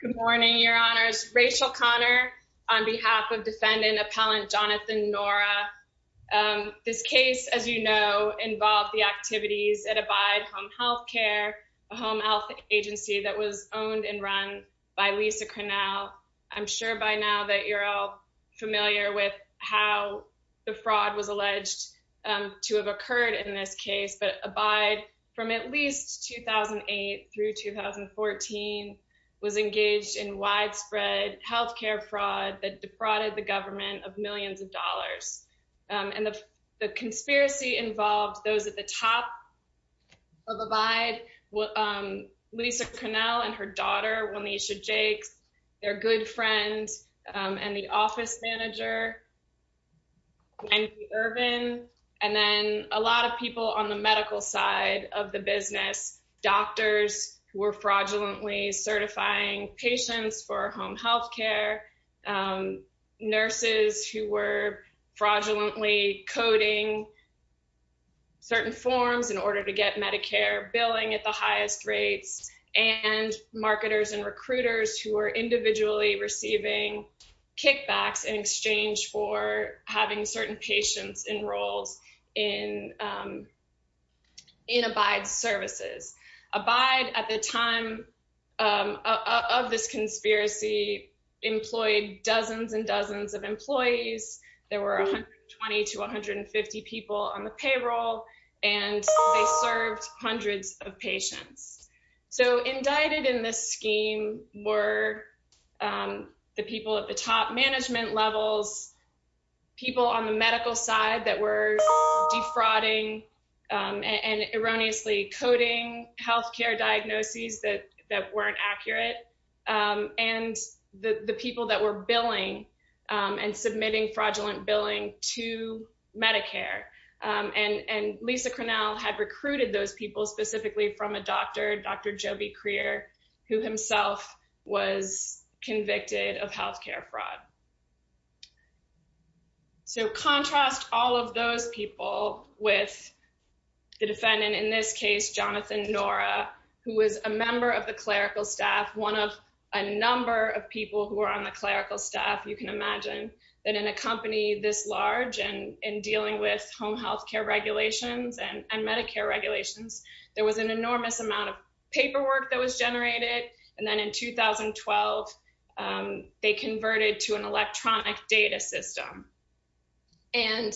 Good morning, your honors. Rachel Connor on behalf of defendant appellant Jonathon Nora. This case, as you know, involved the activities at Abide Home Health Care, a home health agency that was owned and run by Lisa Cornell. I'm sure by now that you're all familiar with how the fraud was alleged to have occurred in this case, but Abide from at least 2008 through 2014 was engaged in widespread health care fraud that defrauded the government of millions of dollars. And the conspiracy involved those at the top of Abide, Lisa Cornell and her daughter, Wanesha Jakes, their good friend and the office manager, Wendy Irvin, and then a lot of people on the medical side of the business, doctors who were fraudulently certifying patients for home health care, nurses who were fraudulently coding certain forms in order to get Medicare billing at the highest rates, and marketers and recruiters who were individually receiving kickbacks in exchange for having certain patients enrolled in Abide services. Abide at the time of this conspiracy employed dozens and dozens of employees. There were 120 to 150 people on the payroll, and they served hundreds of patients. So indicted in this scheme were the people at the top management levels, people on the medical side that were defrauding and erroneously coding health care diagnoses that weren't accurate, and the people that were billing and submitting fraudulent billing to Medicare. And Lisa Cornell had convicted of health care fraud. So contrast all of those people with the defendant, in this case, Jonathan Nora, who was a member of the clerical staff, one of a number of people who were on the clerical staff. You can imagine that in a company this large and in dealing with home health care regulations and Medicare regulations, there was an enormous amount of paperwork that was generated. And then in 2012, they converted to an electronic data system. And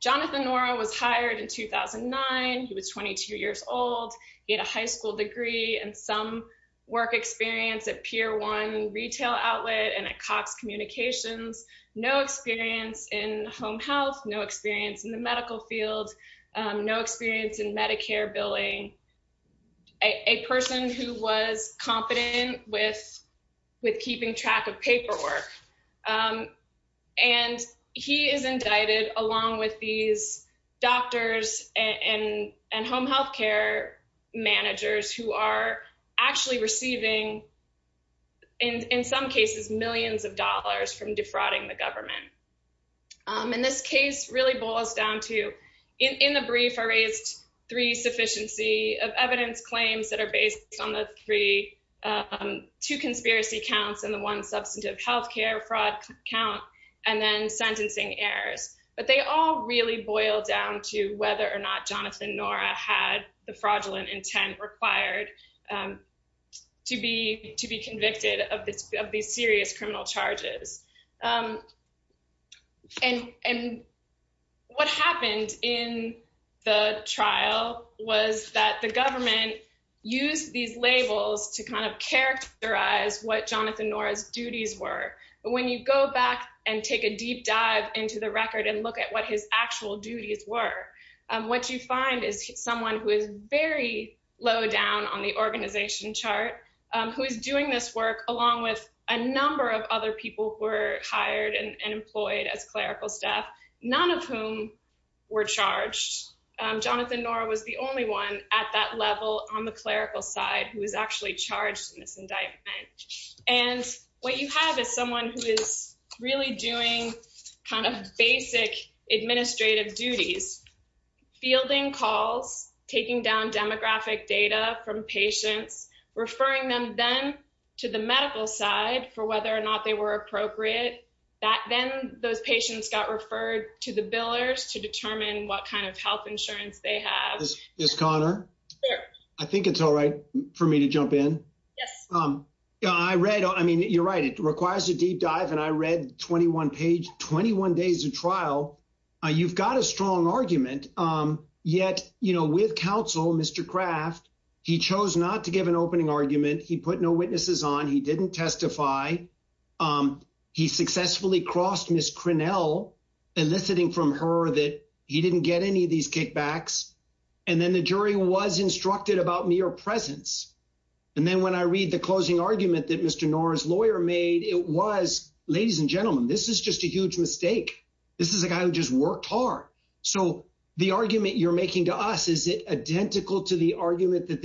Jonathan Nora was hired in 2009. He was 22 years old. He had a high school degree and some work experience at Pier 1 retail outlet and at Cox Communications, no experience in home health, no experience in the medical field, no experience in Medicare billing, a person who was competent with keeping track of paperwork. And he is indicted along with these doctors and home health care managers who are actually receiving, in some cases, millions of dollars from defrauding the government. And this case really boils down to, in the brief, I raised three sufficiency of evidence claims that are based on the three, two conspiracy counts and the one substantive health care fraud count, and then sentencing errors. But they all really boil down to whether or not Jonathan Nora had the fraudulent intent required to be convicted of these serious criminal charges. And what happened in the trial was that the government used these labels to kind of characterize what Jonathan Nora's duties were. But when you go back and take a deep dive into the record and look at what his actual duties were, what you find is someone who is very low down on the organization chart, who is doing this work along with a number of other people who were as clerical staff, none of whom were charged. Jonathan Nora was the only one at that level on the clerical side who was actually charged in this indictment. And what you have is someone who is really doing kind of basic administrative duties, fielding calls, taking down demographic data from patients, referring them then to the medical side for whether or not they were appropriate. Then those patients got referred to the billers to determine what kind of health insurance they have. Ms. Conner? I think it's all right for me to jump in. Yes. I read, I mean, you're right. It requires a deep dive. And I read 21 page, 21 days of trial. You've got a strong argument. Yet, you know, with counsel, Mr. Kraft, he chose not to give an opening argument. He put no witnesses on. He didn't testify. He successfully crossed Ms. Crinnell, eliciting from her that he didn't get any of these kickbacks. And then the jury was instructed about mere presence. And then when I read the closing argument that Mr. Nora's lawyer made, it was, ladies and gentlemen, this is just a huge mistake. This is a guy who just worked hard. So the argument you're making to us, is it really that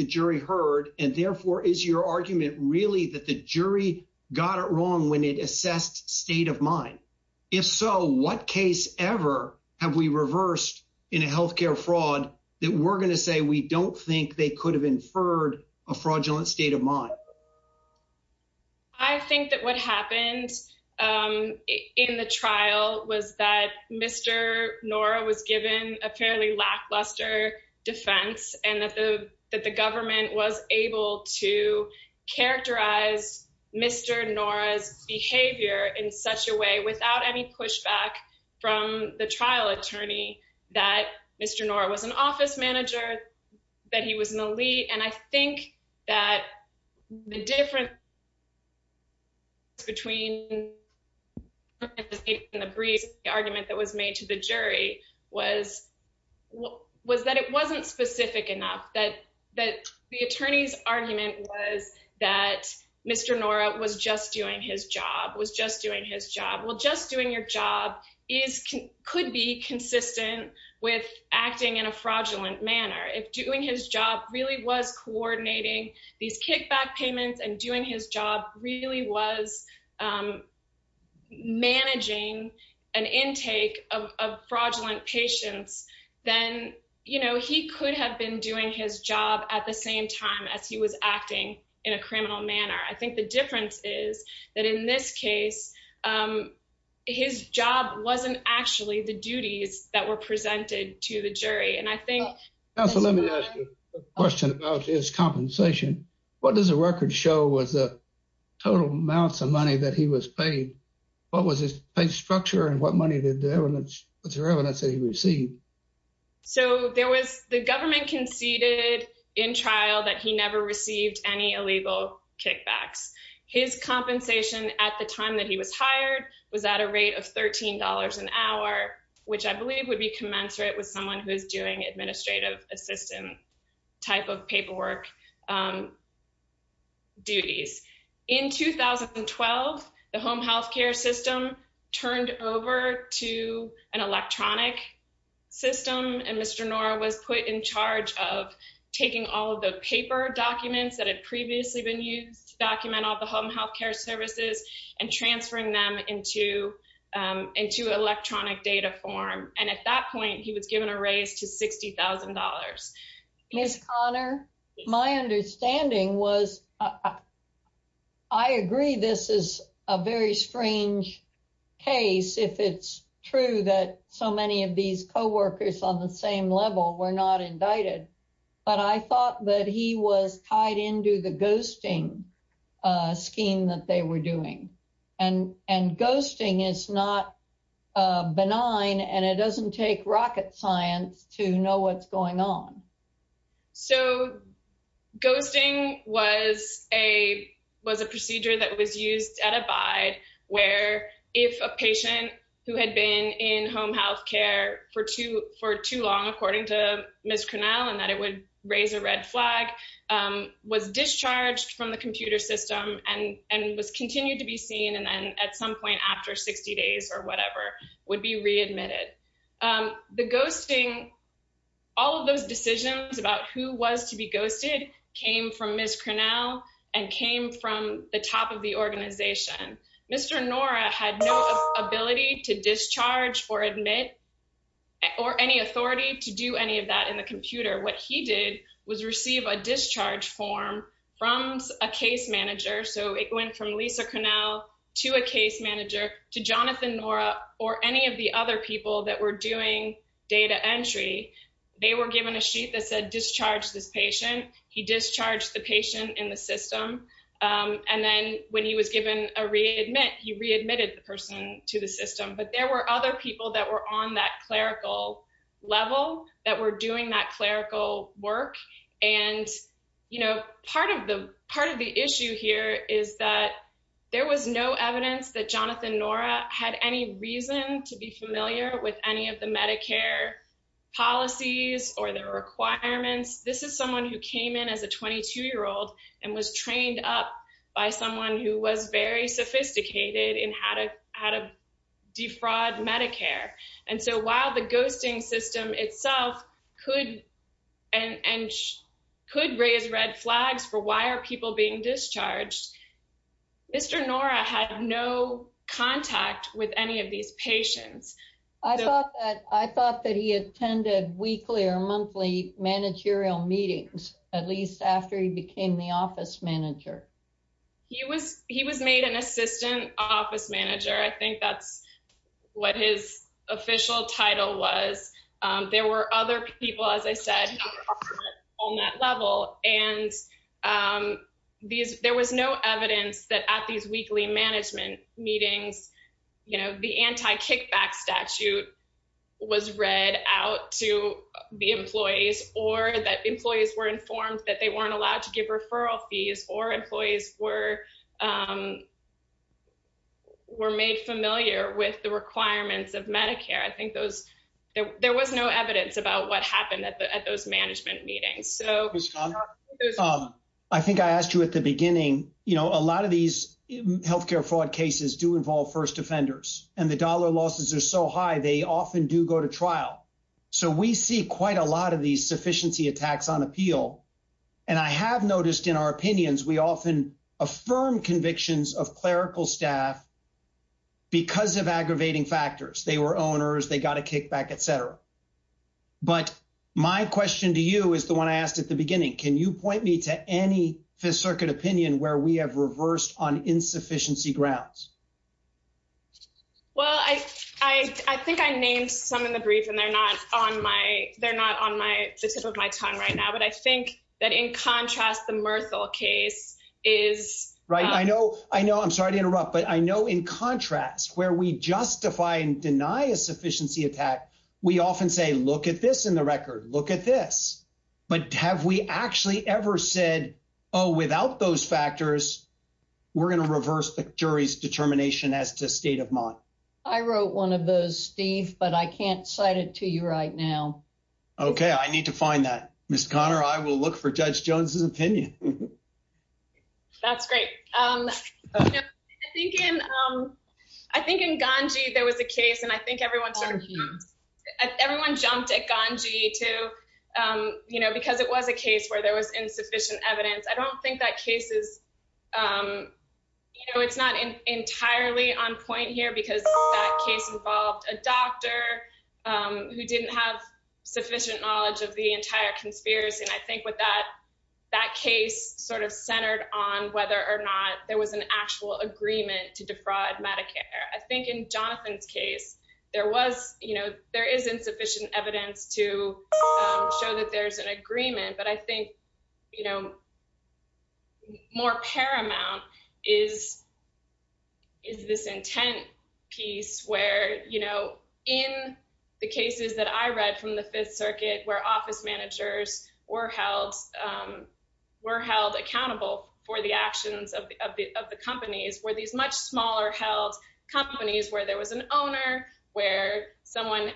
the jury got it wrong when it assessed state of mind? If so, what case ever have we reversed in a health care fraud that we're going to say we don't think they could have inferred a fraudulent state of mind? I think that what happened in the trial was that Mr. Nora was given a fairly lackluster defense and that the government was able to characterize Mr. Nora's behavior in such a way without any pushback from the trial attorney, that Mr. Nora was an office manager, that he was an elite. And I think that the difference between the argument that was made to the jury was that it wasn't specific enough, that the attorney's argument was that Mr. Nora was just doing his job, was just doing his job. Well, just doing your job could be consistent with acting in a fraudulent manner. If doing his job really was coordinating these kickback payments and doing his job really was managing an intake of fraudulent patients, then he could have been doing his job at the same time as he was acting in a criminal manner. I think the difference is that in this case, his job wasn't actually the duties that were presented to the jury. Counsel, let me ask you a question about his compensation. What does the record show was the total amounts of money that he was paid? What was his pay structure and what money was there evidence that he received? So the government conceded in trial that he never received any illegal kickbacks. His compensation at the time that he was hired was at a rate of $13 an hour, which I believe would be commensurate with someone who is doing administrative assistance type of paperwork duties. In 2012, the home healthcare system turned over to an electronic system and Mr. Nora was put in charge of taking all of the paper documents that had previously been used to document all the home healthcare services and transferring them into electronic form. At that point, he was given a raise to $60,000. Ms. Conner, my understanding was, I agree this is a very strange case if it's true that so many of these co-workers on the same level were not indicted, but I thought that he was tied into the ghosting scheme that they were doing. And ghosting is not benign and it doesn't take rocket science to know what's going on. So ghosting was a procedure that was used at Abide where if a patient who had been in home healthcare for too long, according to Ms. Cornell, and that it would raise a red flag, was discharged from the computer system and was continued to be seen and then at some point after 60 days or whatever, would be readmitted. The ghosting, all of those decisions about who was to be ghosted came from Ms. Cornell and came from the top of the organization. Mr. Nora had no ability to discharge or admit or any authority to do any of that in the computer. What he did was receive a case manager. So it went from Lisa Cornell to a case manager, to Jonathan Nora, or any of the other people that were doing data entry. They were given a sheet that said discharge this patient. He discharged the patient in the system. And then when he was given a readmit, he readmitted the person to the system. But there were other people that were on that clerical level that were doing that clerical work. And, you know, part of the issue here is that there was no evidence that Jonathan Nora had any reason to be familiar with any of the Medicare policies or the requirements. This is someone who came in as a 22-year-old and was trained up by someone who was very sophisticated in how to defraud Medicare. And so while the ghosting system itself could raise red flags for why are people being discharged, Mr. Nora had no contact with any of these patients. I thought that he attended weekly or monthly managerial meetings, at least after he became the office manager. He was made an assistant office manager. I think that's what his official title was. There were other people, as I said, on that level. And there was no evidence that at these weekly management meetings, you know, the anti-kickback statute was read out to the employees or that employees were informed that they weren't allowed to give referral fees or employees were made familiar with the requirements of Medicare. I think there was no evidence about what happened at those management meetings. I think I asked you at the beginning, you know, a lot of these health care fraud cases do involve first offenders and the dollar losses are so high, they often do go to trial. So we see quite a lot of these sufficiency attacks on appeal. And I have noticed in our opinions, we often affirm convictions of clerical staff because of aggravating factors. They were owners, they got a kickback, et cetera. But my question to you is the one I asked at the beginning. Can you point me to any Fifth Circuit opinion where we have reversed on insufficiency grounds? Well, I think I named some in the brief and they're not on the tip of my tongue right now, but I think that in contrast, the Murthal case is. Right. I know. I know. I'm sorry to interrupt, but I know in contrast where we justify and deny a sufficiency attack, we often say, look at this in the record, look at this. But have we actually ever said, oh, without those factors, we're going to reverse the jury's determination as to state of mind? I wrote one of those, Steve, but I can't cite it to you right now. OK, I need to find that. Miss Conner, I will look for Judge Jones's opinion. That's great. I think in I think in Ganji there was a case and I think everyone's everyone jumped at Ganji to, you know, because it was a case where there was insufficient evidence. I don't think that case is, you know, it's not entirely on point here because that case involved a doctor who didn't have sufficient knowledge of the entire conspiracy. And I think with that, that case sort of centered on whether or not there was an actual agreement to defraud Medicare. I think in Jonathan's case, there was you know, there is insufficient evidence to show that there's an agreement. But I think, you know, more paramount is is this intent piece where, you know, in the cases that I read from the Fifth Circuit, where office managers were held were held accountable for the actions of the of the companies, were these much smaller held companies where there was an owner, where someone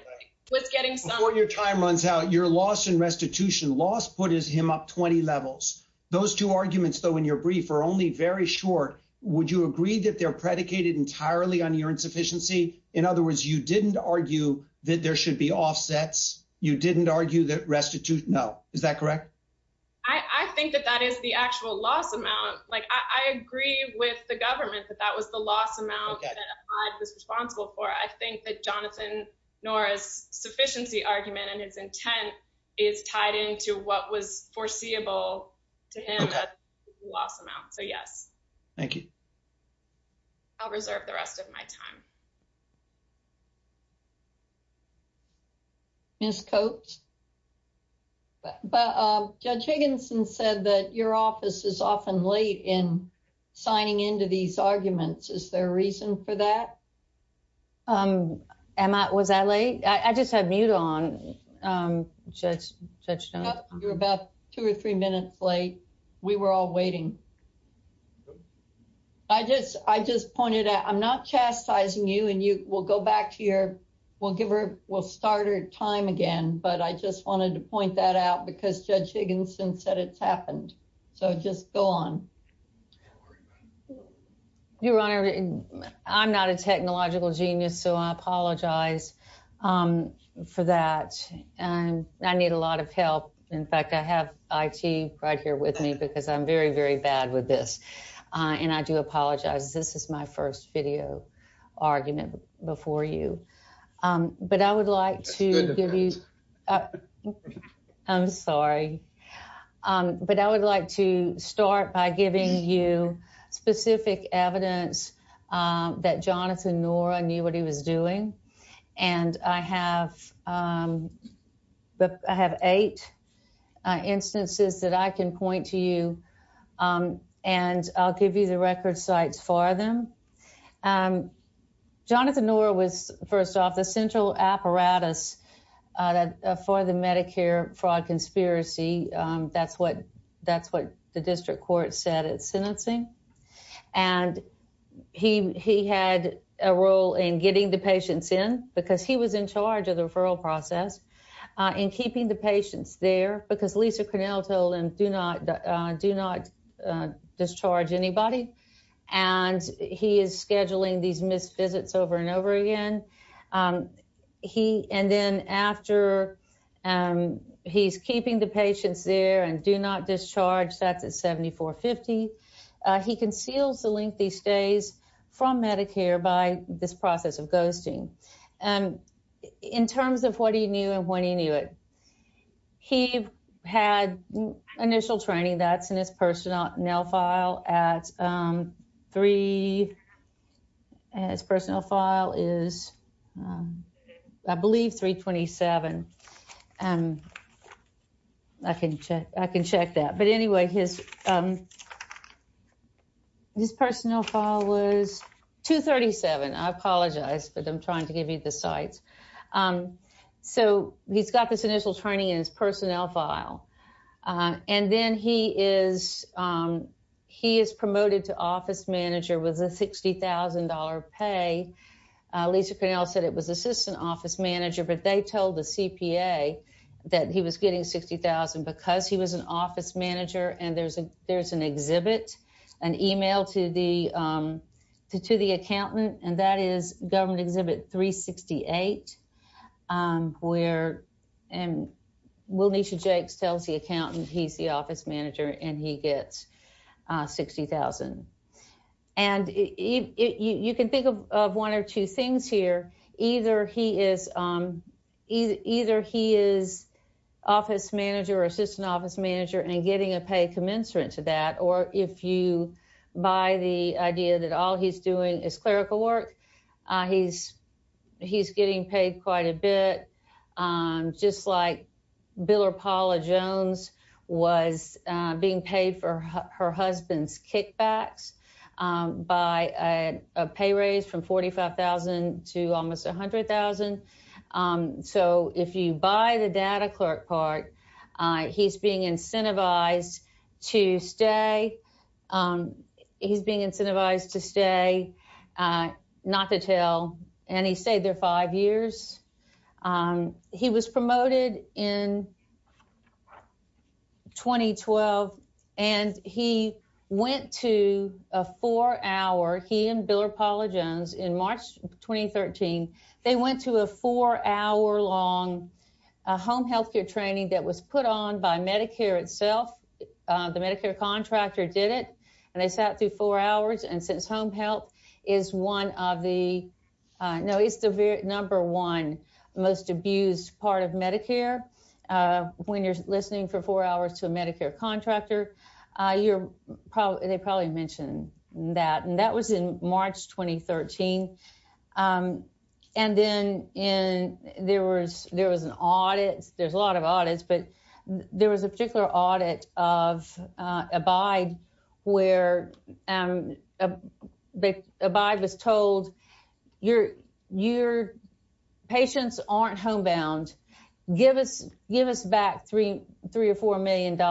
was Before your time runs out, your loss in restitution loss put is him up 20 levels. Those two arguments, though, in your brief are only very short. Would you agree that they're predicated entirely on your insufficiency? In other words, you didn't argue that there should be offsets? You didn't argue that restitute? No. Is that correct? I think that that is the actual loss amount. Like, I agree with the government that that the loss amount was responsible for. I think that Jonathan Norris sufficiency argument and his intent is tied into what was foreseeable to him loss amount. So yes, thank you. I'll reserve the rest of my time. Miss Coates. But Judge Higginson said that your office is often late in signing into these arguments. Is there a reason for that? Um, am I was that late? I just had mute on. Judge, Judge, you're about two or three minutes late. We were all waiting. I just I just pointed out I'm not chastising you and you will go back to your we'll give her we'll start her time again. But I just wanted to point that out because Judge Higginson said it's happened. So just go on. Your Honor, I'm not a technological genius. So I apologize for that. And I need a lot of help. In fact, I have it right here with me because I'm very, very bad with this. And I do apologize. This is my first video argument before you. But I would like to give you a I'm sorry, but I would like to start by giving you specific evidence that Jonathan Nora knew what he was doing. And I have but I have eight instances that I can point to you. And I'll give you the record sites for them. Jonathan Nora was first off the central apparatus for the Medicare fraud conspiracy. That's what that's what the district court said at sentencing. And he he had a role in getting the patients in because he was in charge of the referral process in keeping the patients there because Lisa Cornell told him, do not do not discharge anybody. And he is scheduling these missed visits over and over again. He and then after he's keeping the patients there and do not discharge that's at 7450. He conceals the lengthy stays from Medicare by this process of it. He had initial training that's in his personnel file at three. His personnel file is I believe 327. And I can I can check that. But anyway, his his personnel file was 237. I apologize, but I'm trying to give you the sites. Um, so he's got this initial training in his personnel file. And then he is he is promoted to office manager with a $60,000 pay. Lisa Cornell said it was assistant office manager, but they told the CPA that he was getting 60,000 because he was an office manager. And there's a exhibit, an email to the to the accountant. And that is government exhibit 368, where and will need to Jake's tells the accountant he's the office manager and he gets 60,000. And if you can think of one or two things here, either he is either he is office manager or assistant office manager and getting a pay commensurate to that. Or if you buy the idea that all he's doing is clerical work, he's he's getting paid quite a bit. Just like Bill or Paula Jones was being paid for her husband's kickbacks by a pay raise from 45,000 to almost 100,000. So if you buy the data clerk part, he's being incentivized to stay. He's being incentivized to stay. Not to tell any say their five years. He was promoted in 2013. They went to a four hour long home health care training that was put on by Medicare itself. The Medicare contractor did it and they sat through four hours. And since home health is one of the no, it's the number one most abused part of Medicare. When you're listening for four hours to a Medicare contractor, you're probably they probably mentioned that. And that was in March 2013. And then in there was there was an audit. There's a lot of audits, but there was a particular audit of abide where they abide was told your your patients aren't homebound. Give us give us back three, three or $4 million.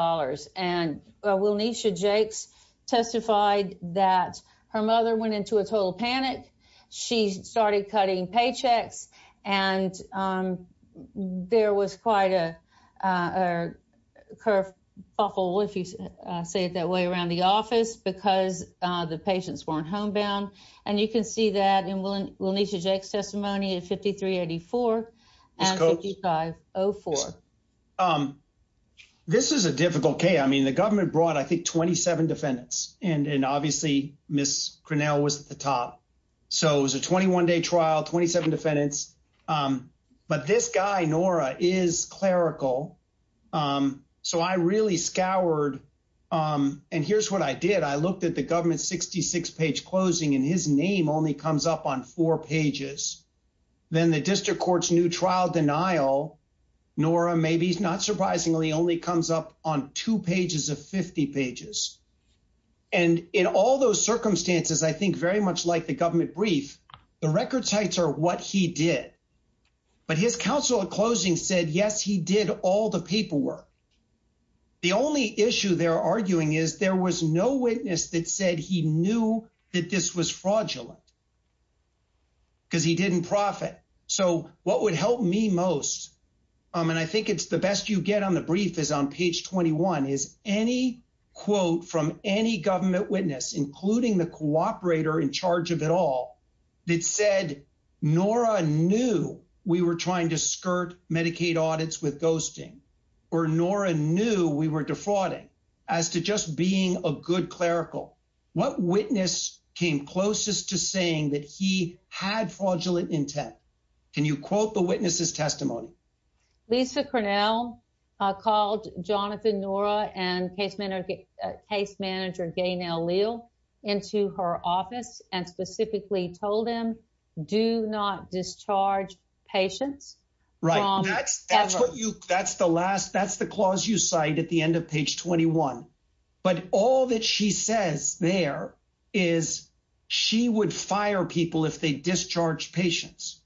And we'll need to Jake's testified that her mother went into a total panic. She started cutting paychecks. And there was quite a curve, awful if you say it that way around the office because the patients weren't homebound. And you can see that in this is a difficult case. I mean, the government brought, I think, 27 defendants and obviously Miss Grinnell was at the top. So it was a 21 day trial, 27 defendants. But this guy, Nora, is clerical. So I really scoured. And here's what I did. I looked at the government 66 page closing and his name only comes up on four pages. Then the district court's trial denial, Nora, maybe not surprisingly, only comes up on two pages of 50 pages. And in all those circumstances, I think very much like the government brief, the record sites are what he did. But his counsel at closing said, yes, he did all the paperwork. The only issue they're arguing is there was no witness that said he knew that this was fraudulent because he didn't profit. So what would help me most, and I think it's the best you get on the brief is on page 21, is any quote from any government witness, including the cooperator in charge of it all, that said, Nora knew we were trying to skirt Medicaid audits with ghosting, or Nora knew we were defrauding, as to just being a good clerical. What witness came closest to saying that he had fraudulent intent? Can you quote the witness's testimony? Lisa Cornell called Jonathan Nora and case manager Gaynelle Leal into her office and specifically told him, do not discharge patients. Right. That's the last, that's the clause you cite at the end of page 21. But all that she says there is she would fire people if they discharged patients.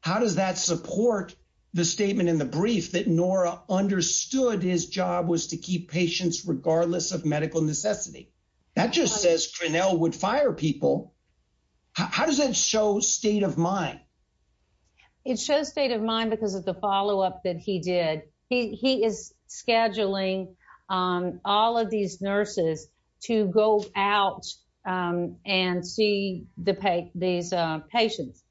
How does that support the statement in the brief that Nora understood his job was to keep patients regardless of medical necessity? That just says Cornell would fire people. How does that show state of mind? It shows state of mind because of the follow-up that he did. He is scheduling all of these nurses to go out and see these patients.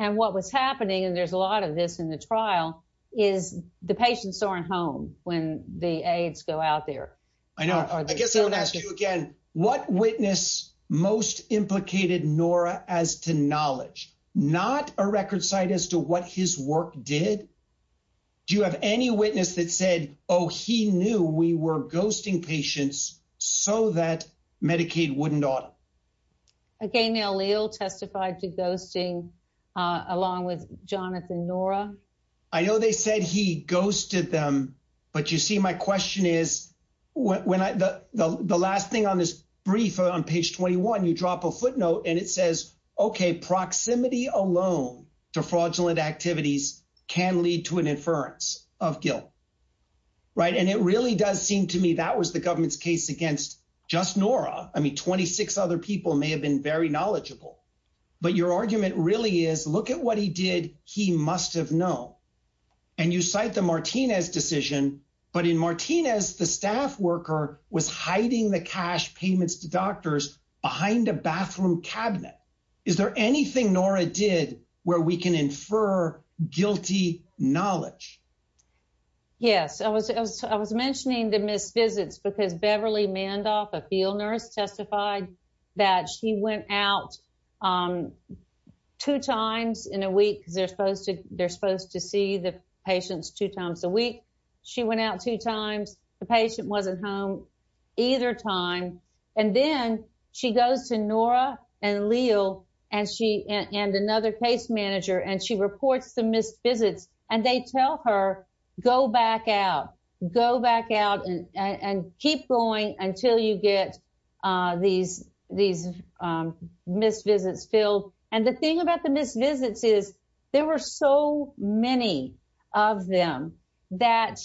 And what was happening, and there's a lot of this in the trial, is the patients aren't home when the aides go out there. I know. I guess I would ask you again, what witness most implicated Nora as to knowledge? Not a record cite as to what his work did. Do you have any witness that said, oh, he knew we were going to do this so that Medicaid wouldn't auto? Again, Gaynelle Leal testified to ghosting along with Jonathan Nora. I know they said he ghosted them. But you see, my question is, when I the last thing on this brief on page 21, you drop a footnote and it says, okay, proximity alone to fraudulent activities can lead to an inference of guilt. Right. And it really does seem to me that was the government's against just Nora. I mean, 26 other people may have been very knowledgeable, but your argument really is look at what he did. He must have known. And you cite the Martinez decision. But in Martinez, the staff worker was hiding the cash payments to doctors behind a bathroom cabinet. Is there anything Nora did where we can infer guilty knowledge? Yes, I was I was I was mentioning the missed visits because Beverly Mandoff, a field nurse, testified that she went out two times in a week because they're supposed to they're supposed to see the patients two times a week. She went out two times. The patient wasn't home either time. And then she goes to Nora and Leal and she and another case manager and she her go back out, go back out and keep going until you get these these missed visits filled. And the thing about the missed visits is there were so many of them that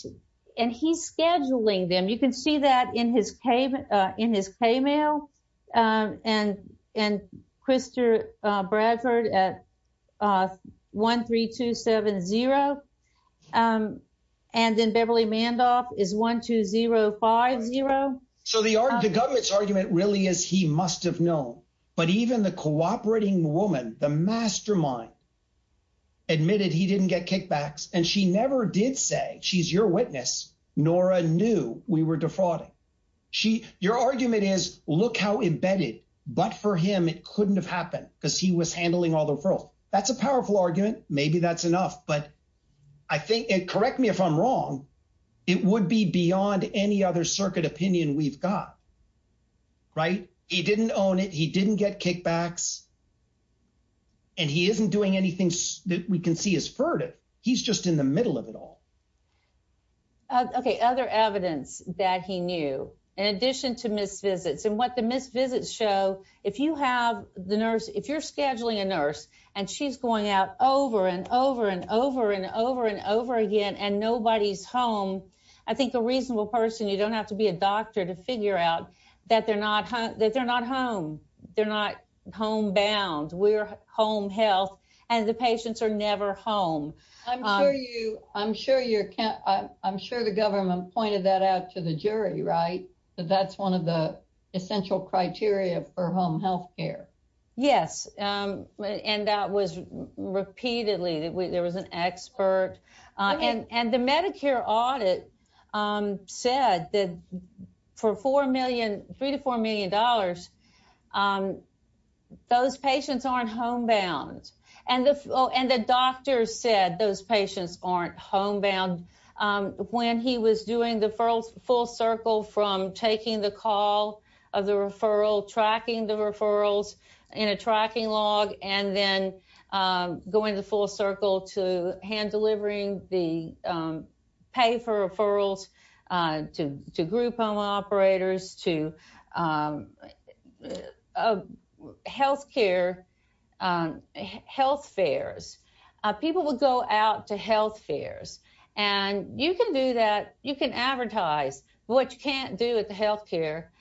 and he's scheduling them. You can see that in his payment, in his pay mail. And and Christopher Bradford at one, three, two, seven, zero. And then Beverly Mandoff is one, two, zero, five, zero. So the argument, the government's argument really is he must have known. But even the cooperating woman, the mastermind, admitted he didn't get kickbacks. And she never did say she's your witness. Nora knew we were defrauding. She your argument is, look how embedded. But for him, it couldn't have happened because he was handling all the referrals. That's a powerful argument. Maybe that's enough. But I think it correct me if I'm wrong. It would be beyond any other circuit opinion we've got. Right. He didn't own it. He didn't get kickbacks. And he isn't doing anything that we can see as furtive. He's just in the middle of it all. OK, other evidence that he knew, in addition to missed visits and what the missed visits show, if you have the nurse, if you're scheduling a nurse and she's going out over and over and over and over and over again and nobody's home, I think a reasonable person, you don't have to be a doctor to figure out that they're not that they're not home. They're not home bound. We're home health and the patients are never home. I'm sure you I'm sure you're I'm sure the government pointed that out to the jury. Right. That's one of the essential criteria for home health care. Yes. And that was repeatedly that there was an expert. And the Medicare audit said that for four million, three to four million dollars, those patients aren't home bound. And the and the doctor said those patients aren't home bound. When he was doing the first full circle from taking the call of the referral, tracking the referrals in a tracking log and then going the full circle to hand delivering the pay for referrals to to group operators, to health care, health fairs. People will go out to health fairs and you can do that. You can advertise what you can't do with the health care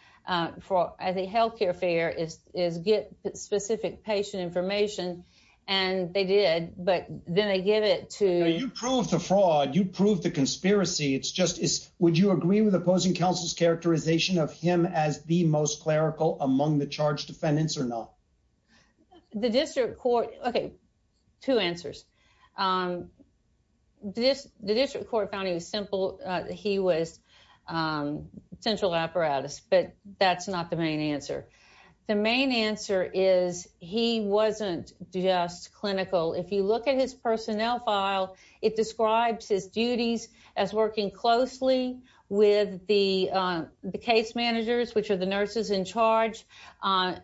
for the health care fair is is get specific patient information. And they did. But then they get it to prove the fraud. You prove the conspiracy. It's just would you agree with opposing counsel's characterization of him as the most clerical among the charge defendants or not? The district court. OK, two answers. This the district court found it was simple. He was central apparatus, but that's not the main answer. The main answer is he wasn't just clinical. If you look at his duties as working closely with the the case managers, which are the nurses in charge, to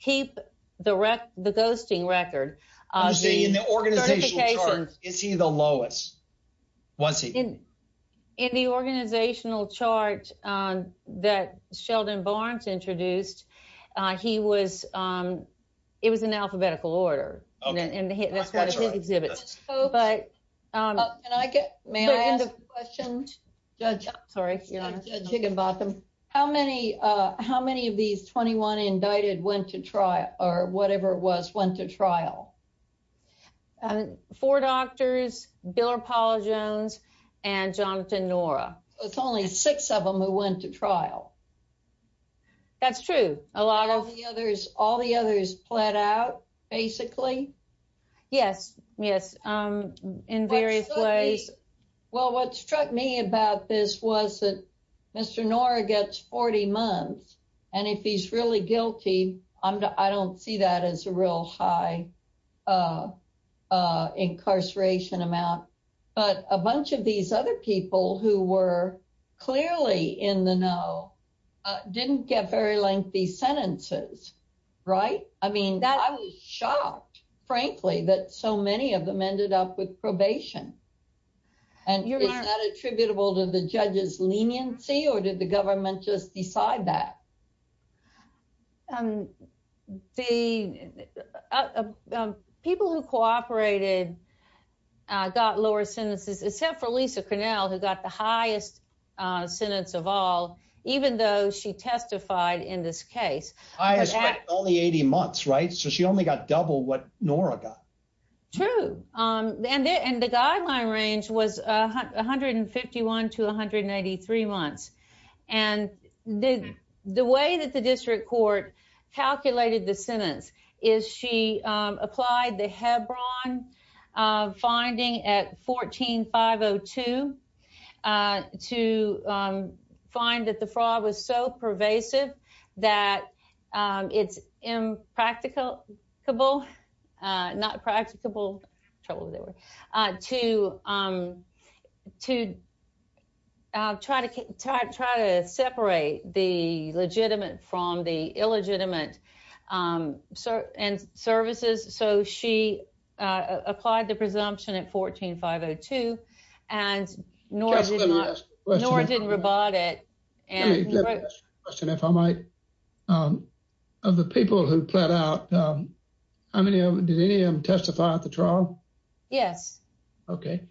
keep the the ghosting record. I see in the organization. Is he the lowest? Once he's in the organizational chart that Sheldon Barnes introduced, he was it was in alphabetical order. And that's what he exhibits. But can I get my questions? Sorry, you know, I'm thinking about them. How many how many of these 21 indicted went to trial or whatever it was, went to trial? Four doctors, Bill or Paula Jones and Jonathan Nora. It's only six of them who went to trial. That's true. A lot of the others, all the others played out basically. Yes. Yes. In various ways. Well, what struck me about this was that Mr. Nora gets 40 months. And if he's really guilty, I don't see that as a real high incarceration amount. But a bunch of these other people who were clearly in the know didn't get very lengthy sentences. Right. I mean, that I was shocked, frankly, that so many of them ended up with probation. And you're not attributable to the judge's leniency or did government just decide that? The people who cooperated got lower sentences, except for Lisa Cornell, who got the highest sentence of all, even though she testified in this case. I asked all the 80 months. Right. So she only got double what Nora got. True. And the guideline range was 151 to 183 months. And the way that the district court calculated the sentence is she applied the Hebron finding at 14502 to find that the fraud was so pervasive that it's impractical, not to try to separate the legitimate from the illegitimate and services. So she applied the presumption at 14502 and Nora didn't rebut it. Of the people who plead out, did any of them testify at the trial? Yes. Okay.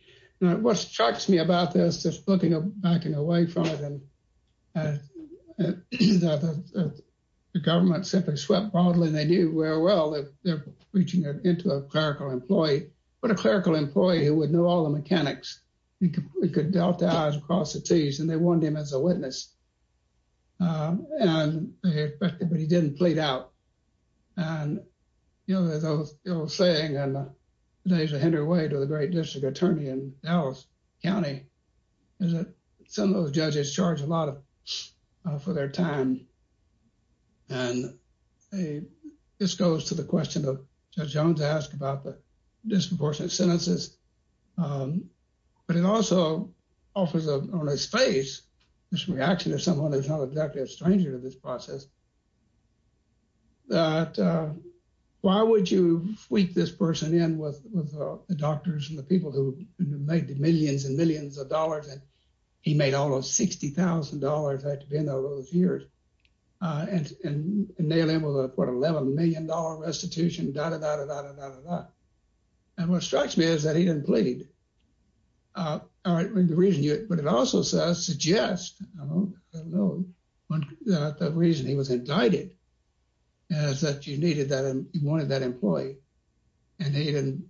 Now, what strikes me about this, just looking back and away from it, the government simply swept broadly and they knew very well that they're preaching it into a clerical employee. But a clerical employee who would know all the mechanics, he could delta out across the Ts and they wanted him as a witness. And they expected, but he didn't plead out. And, you know, as I was saying, and today's a hindered way to the great district attorney in Dallas County, is that some of those judges charge a lot of for their time. And this goes to the question of Judge Jones asked about the disproportionate sentences. But it also offers up on his face, this reaction to someone who's not exactly a stranger to this process, that why would you freak this person in with the doctors and the people who made the millions and millions of dollars? And he made almost $60,000 at the end of those years and nail him with a $11 million restitution, dah, dah, dah, dah, dah, dah. And what strikes me is that he didn't plead. But it also suggests, I don't know, that the reason he was indicted is that you wanted that employee and he didn't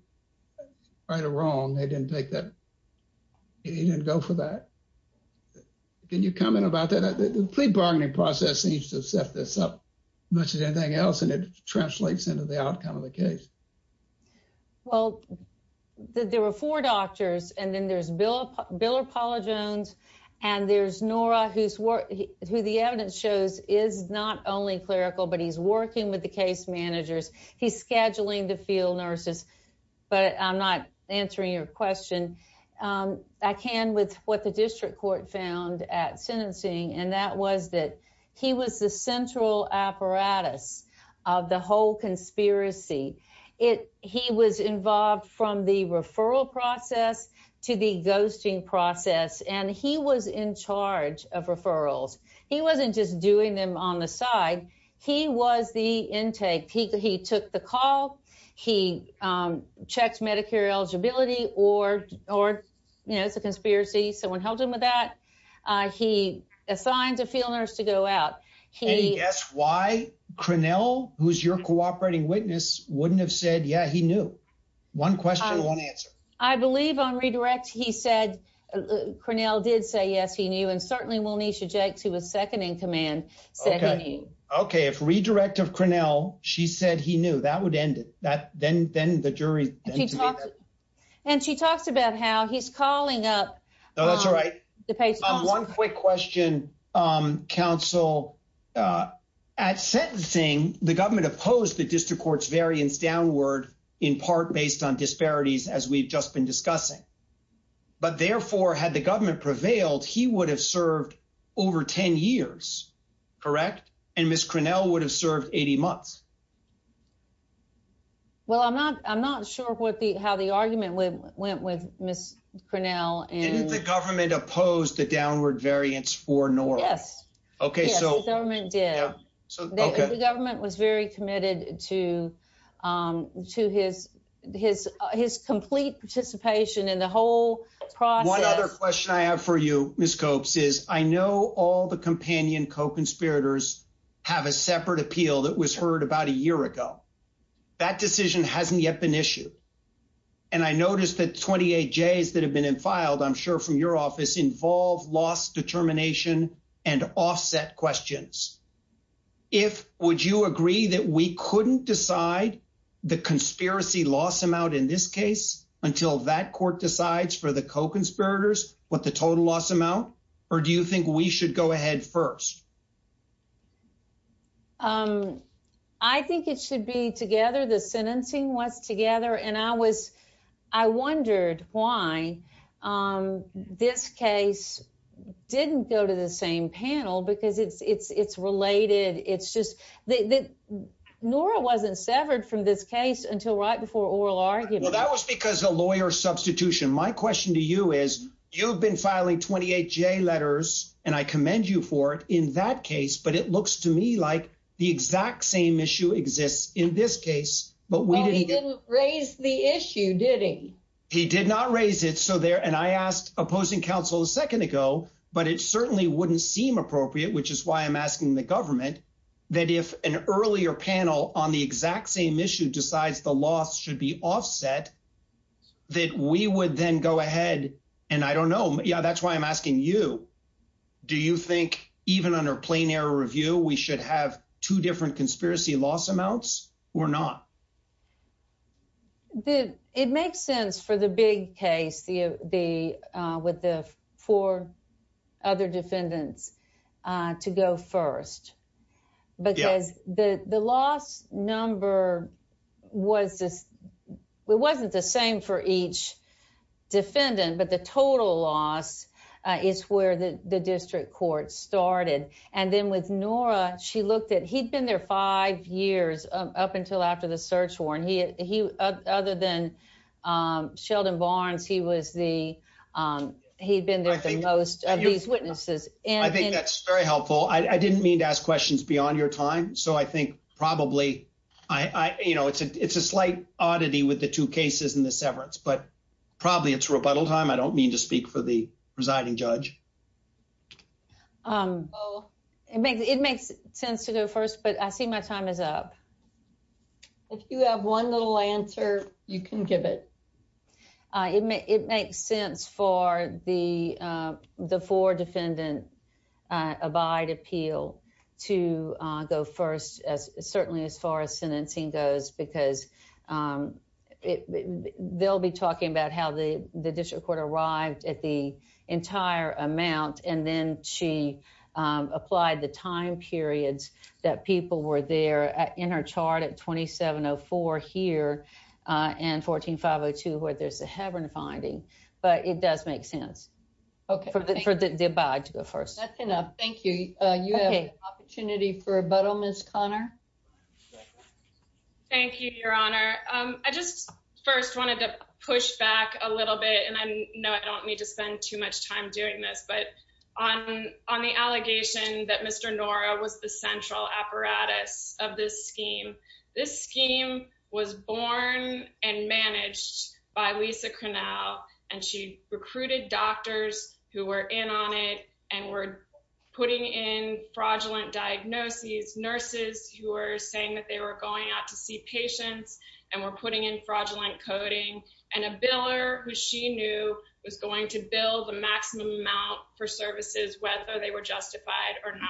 right or wrong, they didn't take that, he didn't go for that. Can you comment about that? The plea bargaining process seems to set this up much as anything else and it translates into the outcome of the case. Well, there were four doctors and then there's Bill or Paula Jones and there's Nora who's who the evidence shows is not only clerical, but he's working with the case managers. He's scheduling the field nurses, but I'm not answering your question. I can with what the district court found at sentencing and that was that he was the central apparatus of the whole conspiracy. He was involved from the referral process to the ghosting process and he was in charge of referrals. He wasn't just doing them on the side, he was the intake. He took the call, he checked Medicare eligibility or, you know, it's a conspiracy, someone helped him with that. He assigned a field nurse to go out. Any guess why Crinnell, who's your cooperating witness, wouldn't have said, yeah, he knew? One question, one answer. I believe on redirect he said Crinnell did say yes, he knew and certainly Monisha Jakes, who was second in command, said he knew. Okay, if redirect of Crinnell, she said he knew, that would end it. Then the jury. And she talks about how he's calling up. No, that's all right. One quick question, counsel. At sentencing, the government opposed the district court's variance downward, in part based on disparities, as we've just been discussing. But therefore, had the government prevailed, he would have served over 10 years, correct? And Ms. Crinnell would have served 80 months. Well, I'm not sure how the argument went with Ms. Crinnell. Didn't the government oppose the downward variance for Norris? Yes, the government did. The government was very committed to his complete participation in the whole process. One other question I have for you, Ms. Copes, is I know all the companion co-conspirators have a separate appeal that was heard about a year ago. That decision hasn't yet been issued. And I noticed that the 28 J's that have been filed, I'm sure from your office, involve loss determination and offset questions. Would you agree that we couldn't decide the conspiracy loss amount in this case until that court decides for the co-conspirators what the total loss amount? Or do you think we should go ahead first? I think it should be together. The sentencing was together, and I wondered why this case didn't go to the same panel because it's related. Nora wasn't severed from this case until right before oral argument. Well, that was because of lawyer substitution. My question to you is, you've been filing 28 J letters, and I commend you for it in that case, but it looks to me like the exact same issue exists in this case. Well, he didn't raise the issue, did he? He did not raise it. And I asked opposing counsel a second ago, but it certainly wouldn't seem appropriate, which is why I'm asking the government, that if an earlier panel on the exact same issue decides the loss should be offset, that we would then go ahead. And I don't know if that's the case. It makes sense for the big case with the four other defendants to go first because the loss number wasn't the same for each defendant, but the total loss is where the five years up until after the search war. And he, other than Sheldon Barnes, he was the, he'd been there for most of these witnesses. I think that's very helpful. I didn't mean to ask questions beyond your time. So I think probably, you know, it's a slight oddity with the two cases and the severance, but probably it's rebuttal time. I don't mean to speak for the I see my time is up. If you have one little answer, you can give it. It makes sense for the four-defendant abide appeal to go first, certainly as far as sentencing goes, because they'll be talking about how the district court arrived at the entire amount, and then she applied the time periods that people were there in her chart at 2704 here and 14502, where there's a haven finding. But it does make sense for the abide to go first. That's enough. Thank you. You have an opportunity for rebuttal, Ms. Connor. Thank you, Your Honor. I just first wanted to push back a little bit, and I know I don't mean to spend too much time doing this, but on the allegation that Mr. Nora was the central apparatus of this scheme, this scheme was born and managed by Lisa Cronall, and she recruited doctors who were in on it and were putting in fraudulent diagnoses, nurses who were saying that they were going out to see patients and were putting in fraudulent coding, and a biller who she knew was going to bill the maximum amount for services, whether they were justified or not.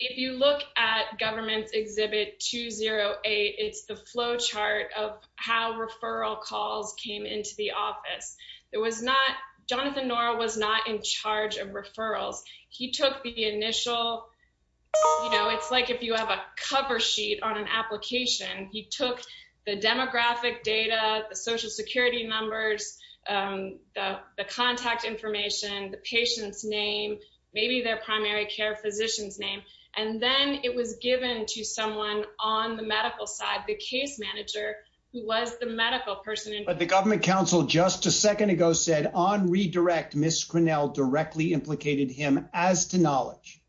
If you look at Government Exhibit 208, it's the flowchart of how referral calls came into the office. It was not – Jonathan Nora was not in charge of referrals. He took the initial – you know, it's like if you have a cover sheet on an application. He took the demographic data, the social security numbers, the contact information, the patient's name, maybe their primary care physician's name, and then it was given to someone on the medical side, the case manager, who was the medical person involved. But the government counsel just a second ago said on redirect, Ms. Cronall directly implicated him as to knowledge.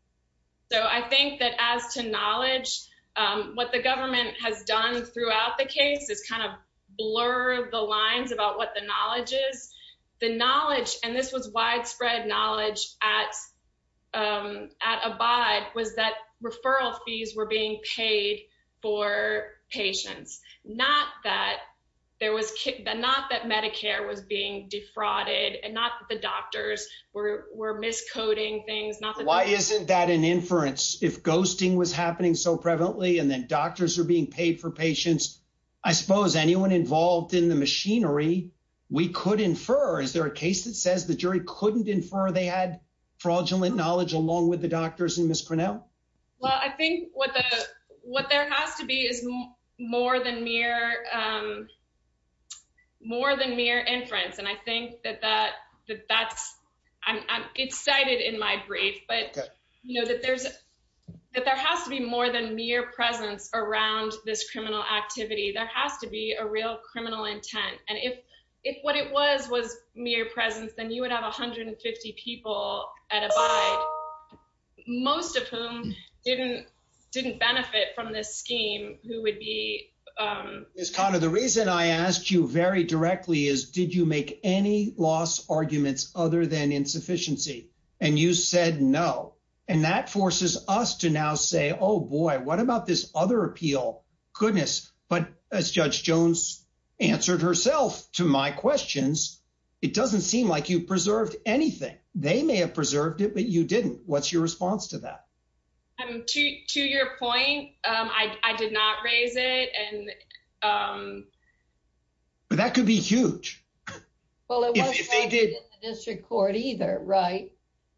So I think that as to knowledge, what the government has done throughout the case is kind of blur the lines about what the knowledge is. The knowledge, and this was widespread knowledge at Abide, was that referral fees were being paid for patients, not that there was – not that Medicare was being defrauded and not that the doctors were miscoding things, not that – Why isn't that an inference? If ghosting was happening so prevalently and then doctors are being paid for patients, I suppose anyone involved in the machinery, we could infer. Is there a case that says the jury couldn't infer they had fraudulent knowledge along with the doctors and Ms. Cronall? Well, I think what there has to be is more than mere inference, and I think that that's – it's that there has to be more than mere presence around this criminal activity. There has to be a real criminal intent, and if what it was was mere presence, then you would have 150 people at Abide, most of whom didn't benefit from this scheme who would be – Ms. Cronall, the reason I asked you very directly is did you make any loss arguments other than to now say, oh, boy, what about this other appeal? Goodness, but as Judge Jones answered herself to my questions, it doesn't seem like you preserved anything. They may have preserved it, but you didn't. What's your response to that? To your point, I did not raise it. That could be huge. Well, it wasn't raised in the district court either, right?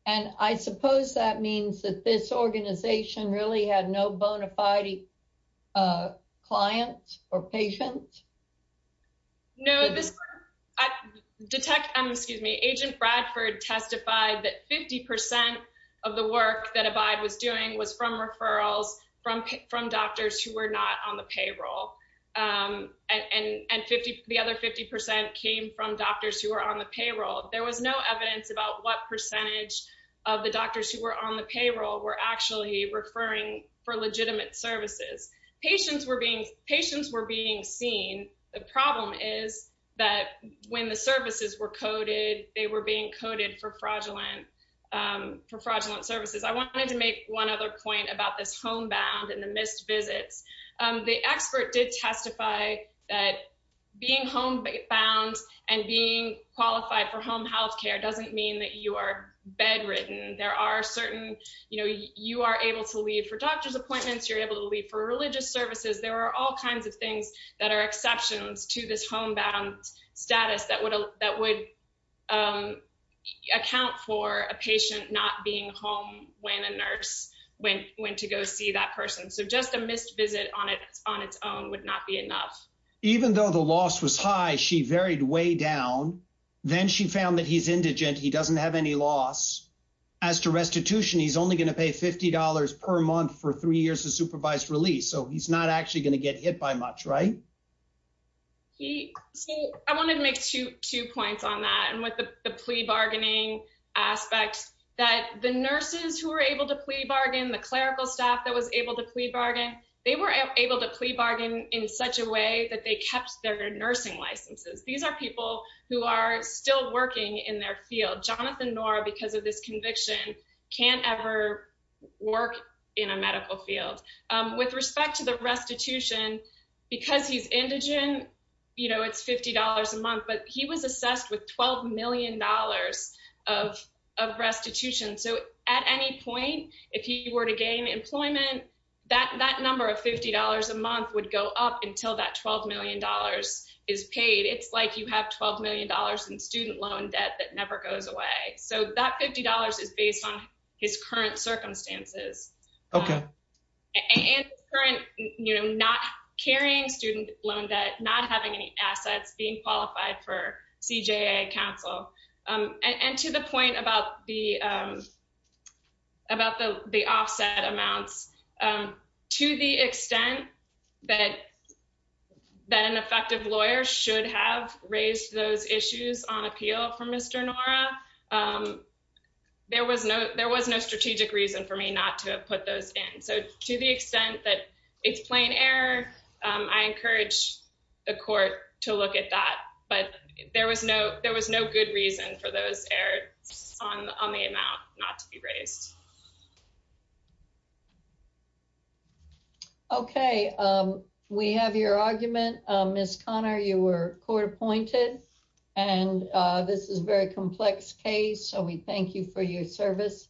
And I suppose that means that this organization really had no bona fide client or patient? No. Agent Bradford testified that 50 percent of the work that Abide was doing was from referrals from doctors who were not on the payroll, and the other 50 percent came from about what percentage of the doctors who were on the payroll were actually referring for legitimate services. Patients were being seen. The problem is that when the services were coded, they were being coded for fraudulent services. I wanted to make one other point about this homebound and the missed visits. The expert did testify that being homebound and being qualified for home healthcare doesn't mean that you are bedridden. You are able to leave for doctor's appointments. You're able to leave for religious services. There are all kinds of things that are exceptions to this homebound status that would account for a patient not being home when a nurse went to go see that person. So just a missed visit on its own would not be enough. Even though the loss was high, she varied way down. Then she found that he's indigent. He doesn't have any loss. As to restitution, he's only going to pay $50 per month for three years of supervised release, so he's not actually going to get hit by much, right? I wanted to make two points on that and with the plea bargaining aspect that the nurses who were able to plea bargain, the clerical staff that was able to plea bargain, they were able to plea bargain in such a way that they kept their nursing licenses. These are people who are still working in their field. Jonathan Noor, because of this conviction, can't ever work in a medical field. With respect to the restitution, because he's indigent, it's $50 a month, but he was assessed with $12 million of restitution. So at any point, if he were to gain employment, that number of $50 a month would go up until that $12 million is paid. It's like you have $12 million in student loan debt that never goes away. So that $50 is based on his current circumstances and current not carrying student loan debt, not having any assets, being qualified for CJA counsel. And to the point about the offset amounts, to the extent that an effective lawyer should have raised those issues on appeal for Mr. Noor, there was no strategic reason for me not to have put those in. So to the extent that it's plain error, I encourage the court to look at that. But there was no good reason for those errors on the amount not to be raised. Okay. We have your argument. Ms. Connor, you were court appointed. And this is a very complex case. So we thank you for your service.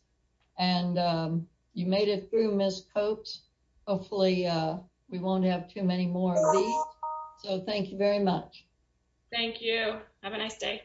And you made it through, Ms. Copes. Hopefully, we won't have too many more of these. So thank you very much. Thank you. Have a nice day.